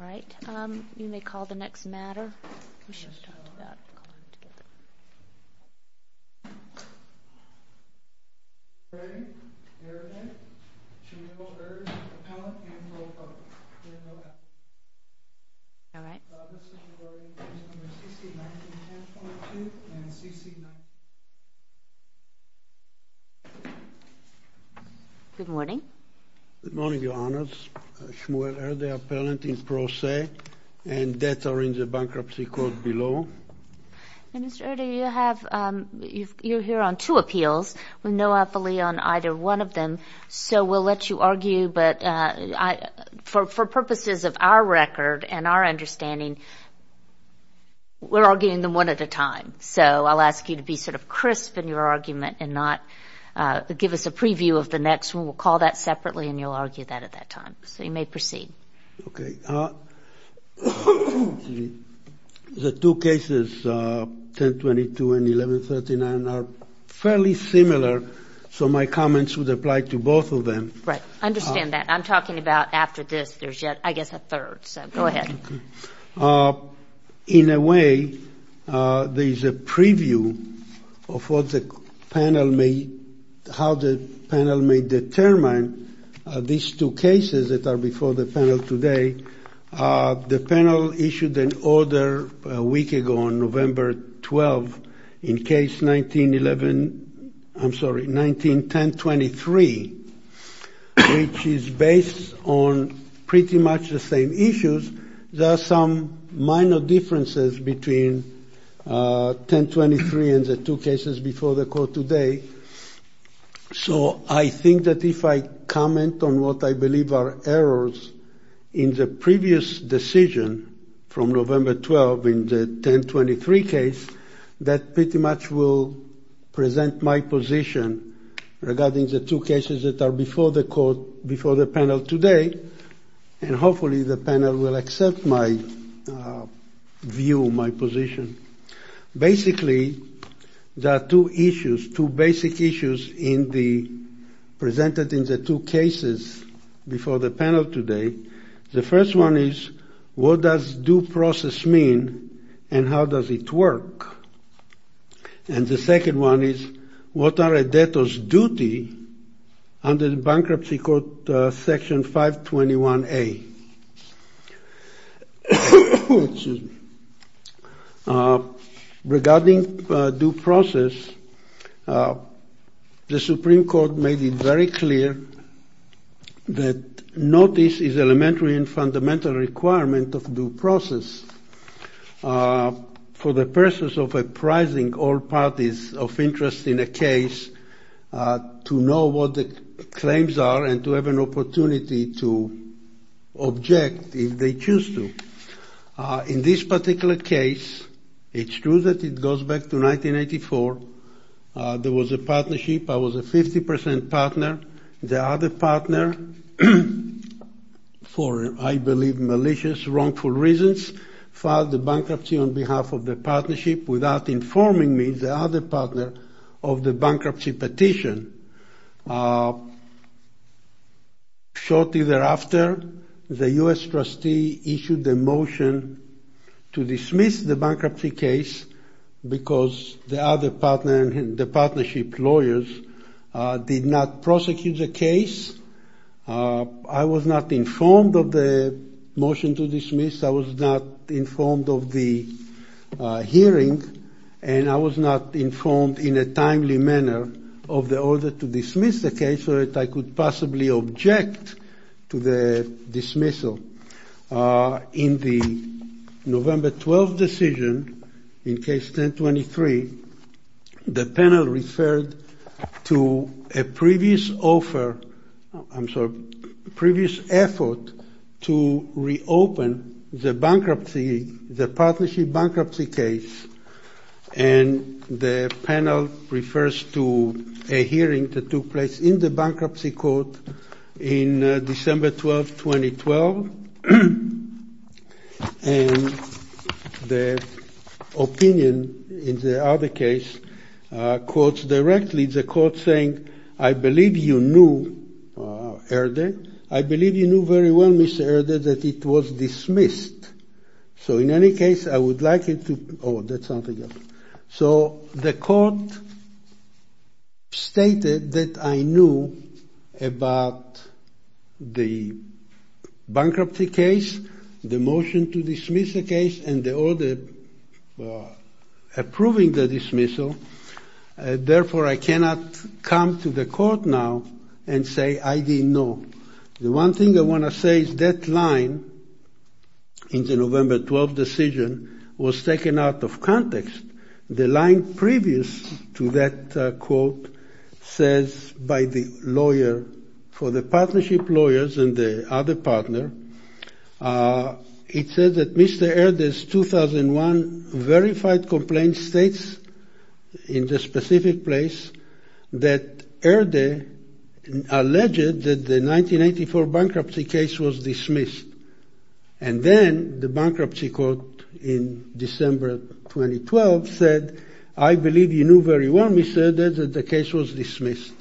All right, you may call the next matter. We should have talked about calling together. Ray, ERDE, Shmuel Erd, Appellant, and Pro Bono. All right. Good morning. Good morning, Your Honors. Shmuel Erde, Appellant, and Pro Se. And debts are in the bankruptcy court below. Minister Erde, you're here on two appeals with no appellee on either one of them, so we'll let you argue, but for purposes of our record and our understanding, we're arguing them one at a time. So I'll ask you to be sort of crisp in your argument and not give us a preview of the next one. We'll call that separately, and you'll argue that at that time. So you may proceed. Okay. The two cases, 1022 and 1139, are fairly similar, so my comments would apply to both of them. Right. I understand that. I'm talking about after this, there's yet, I guess, a third. So go ahead. In a way, there's a preview of what the panel may, how the panel may determine these two cases that are before the panel today. The panel issued an order a week ago on November 12th in case 1911, I'm sorry, 1910-23, which is based on pretty much the same issues. There are some minor differences between 1023 and the two cases before the court today. So I think that if I comment on what I believe are errors in the previous decision from November 12th in the 1023 case, that pretty much will present my position regarding the two cases that are before the court, before the panel today, and hopefully the panel will accept my view, my position. Basically, there are two issues, two basic issues in the, presented in the two cases before the panel today. The first one is, what does due process mean and how does it work? And the second one is, what are a debtor's duty under the Bankruptcy Court Section 521A? Excuse me. Regarding due process, the Supreme Court made it very clear that notice is elementary and fundamental requirement of due process. For the purposes of apprising all parties of interest in a case to know what the claims are and to have an opportunity to object if they choose to. In this particular case, it's true that it goes back to 1984. There was a partnership. I was a 50 percent partner. The other partner, for I believe malicious, wrongful reasons, filed the bankruptcy on behalf of the partnership without informing me, the other partner, of the bankruptcy petition. Shortly thereafter, the U.S. trustee issued a motion to dismiss the bankruptcy case because the other partner and the partnership lawyers did not prosecute the case. I was not informed of the motion to dismiss. I was not informed of the hearing. And I was not informed in a timely manner of the order to dismiss the case so that I could possibly object to the dismissal. In the November 12 decision, in case 1023, the panel referred to a previous offer, I'm sorry, previous effort to reopen the bankruptcy, the partnership bankruptcy case. And the panel refers to a hearing that took place in the bankruptcy court in December 12, 2012. And the opinion in the other case quotes directly the court saying, I believe you knew, Herder, I believe you knew very well, Mr. Herder, that it was dismissed. So in any case, I would like it to, oh, that's something else. So the court stated that I knew about the bankruptcy case, the motion to dismiss the case and the order approving the dismissal. Therefore, I cannot come to the court now and say I didn't know. The one thing I want to say is that line in the November 12 decision was taken out of context. The line previous to that quote says by the lawyer for the partnership lawyers and the other partner, it says that Mr. Herder's 2001 verified complaint states in the specific place that Herder alleged that the 1984 bankruptcy case was dismissed. And then the bankruptcy court in December 2012 said, I believe you knew very well, Mr. Herder, that the case was dismissed.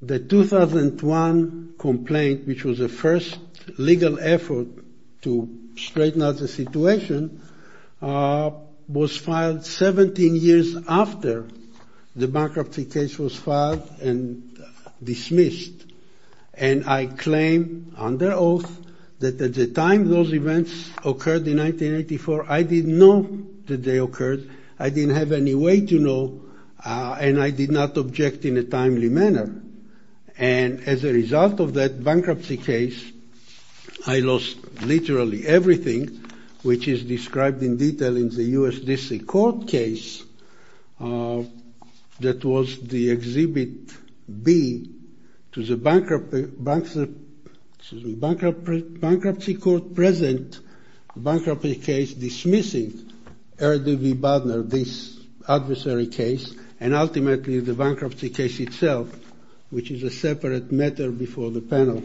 The 2001 complaint, which was the first legal effort to straighten out the situation, was filed 17 years after the bankruptcy case was filed and dismissed. And I claim under oath that at the time those events occurred in 1984, I didn't know that they occurred. I didn't have any way to know. And I did not object in a timely manner. And as a result of that bankruptcy case, I lost literally everything, which is described in detail in the U.S. District Court case. That was the exhibit B to the bankruptcy court present bankruptcy case dismissing Herder v. which is a separate matter before the panel.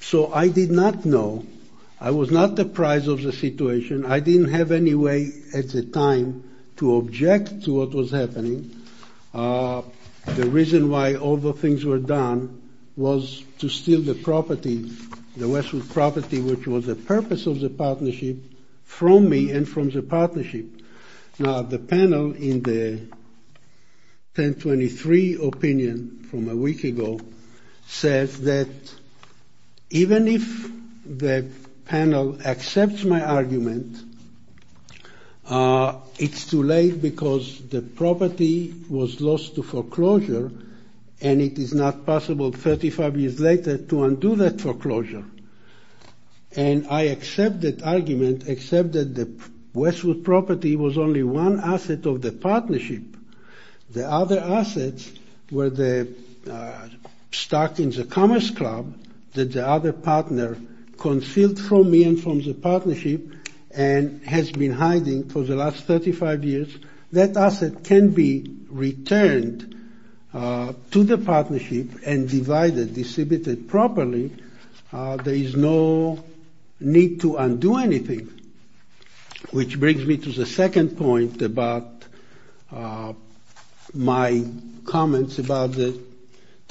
So I did not know. I was not the prize of the situation. I didn't have any way at the time to object to what was happening. The reason why all the things were done was to steal the property, the Westwood property, which was the purpose of the partnership from me and from the partnership. Now, the panel in the 1023 opinion from a week ago says that even if the panel accepts my argument, it's too late because the property was lost to foreclosure and it is not possible 35 years later to undo that foreclosure. And I accept that argument, except that the Westwood property was only one asset of the partnership. The other assets were the stock in the Commerce Club that the other partner concealed from me and from the partnership and has been hiding for the last 35 years. That asset can be returned to the partnership and divided, distributed properly. There is no need to undo anything. Which brings me to the second point about my comments about the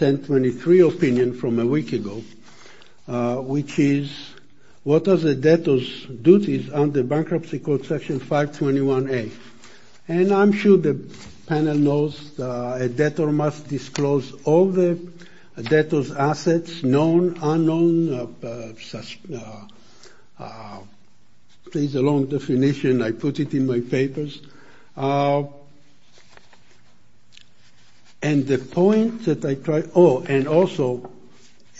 1023 opinion from a week ago, which is what does a debtor's duties under Bankruptcy Code Section 521A. And I'm sure the panel knows a debtor must disclose all the debtor's assets, known, unknown. There is a long definition. I put it in my papers. And the point that I try, oh, and also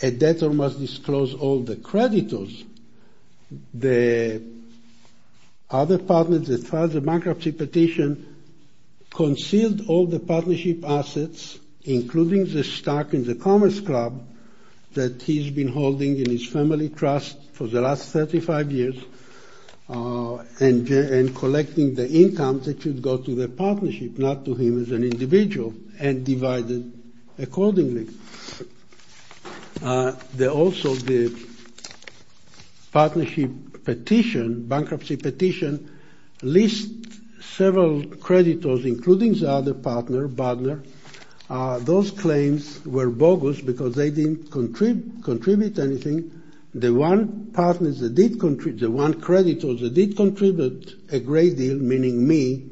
a debtor must disclose all the creditors. The other partners that filed the bankruptcy petition concealed all the partnership assets, including the stock in the Commerce Club that he's been holding in his family trust for the last 35 years and collecting the income that should go to the partnership, not to him as an individual, and divided accordingly. There also, the partnership petition, bankruptcy petition, lists several creditors, including the other partner, Budner. Those claims were bogus because they didn't contribute anything. The one partners that did contribute, the one creditors that did contribute a great deal, meaning me,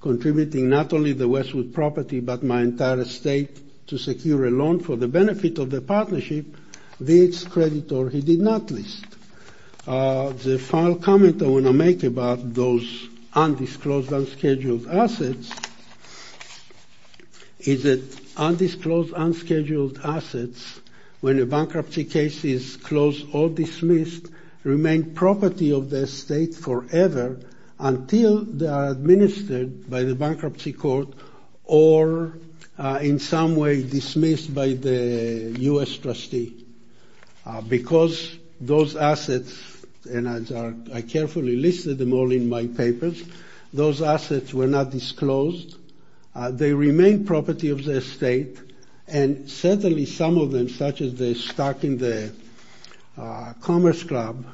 contributing not only the Westwood property but my entire estate to secure a loan for the benefit of the partnership, this creditor he did not list. The final comment I want to make about those undisclosed, unscheduled assets is that undisclosed, unscheduled assets, when a bankruptcy case is closed or dismissed, remain property of the estate forever until they are administered by the bankruptcy court or in some way dismissed by the U.S. trustee. Because those assets, and I carefully listed them all in my papers, those assets were not disclosed. They remain property of the estate, and certainly some of them, such as the stock in the Commerce Club,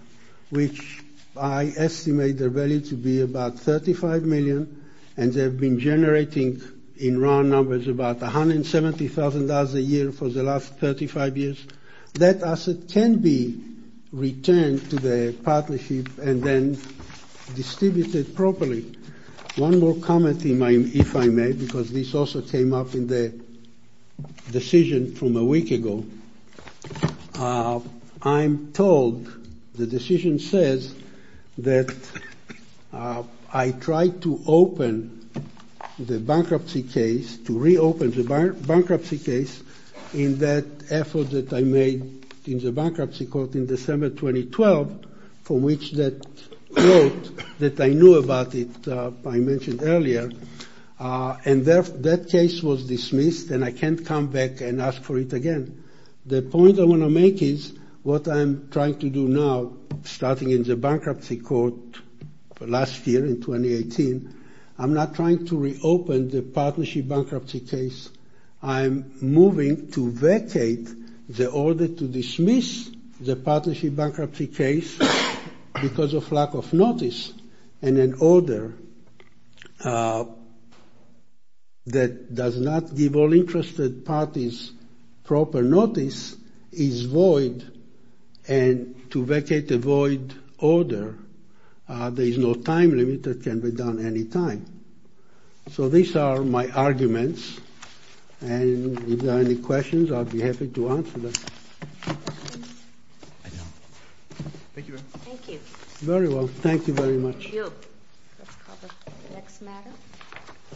which I estimate their value to be about $35 million, and they've been generating in round numbers about $170,000 a year for the last 35 years. That asset can be returned to the partnership and then distributed properly. One more comment, if I may, because this also came up in the decision from a week ago. I'm told the decision says that I tried to open the bankruptcy case, to reopen the bankruptcy case, in that effort that I made in the bankruptcy court in December 2012, for which that note that I knew about it, I mentioned earlier, and that case was dismissed, and I can't come back and ask for it again. The point I want to make is what I'm trying to do now, starting in the bankruptcy court last year in 2018, I'm not trying to reopen the partnership bankruptcy case. I'm moving to vacate the order to dismiss the partnership bankruptcy case because of lack of notice, and an order that does not give all interested parties proper notice is void, and to vacate the void order, there is no time limit that can be done any time. So these are my arguments, and if there are any questions, I'll be happy to answer them. Thank you very much.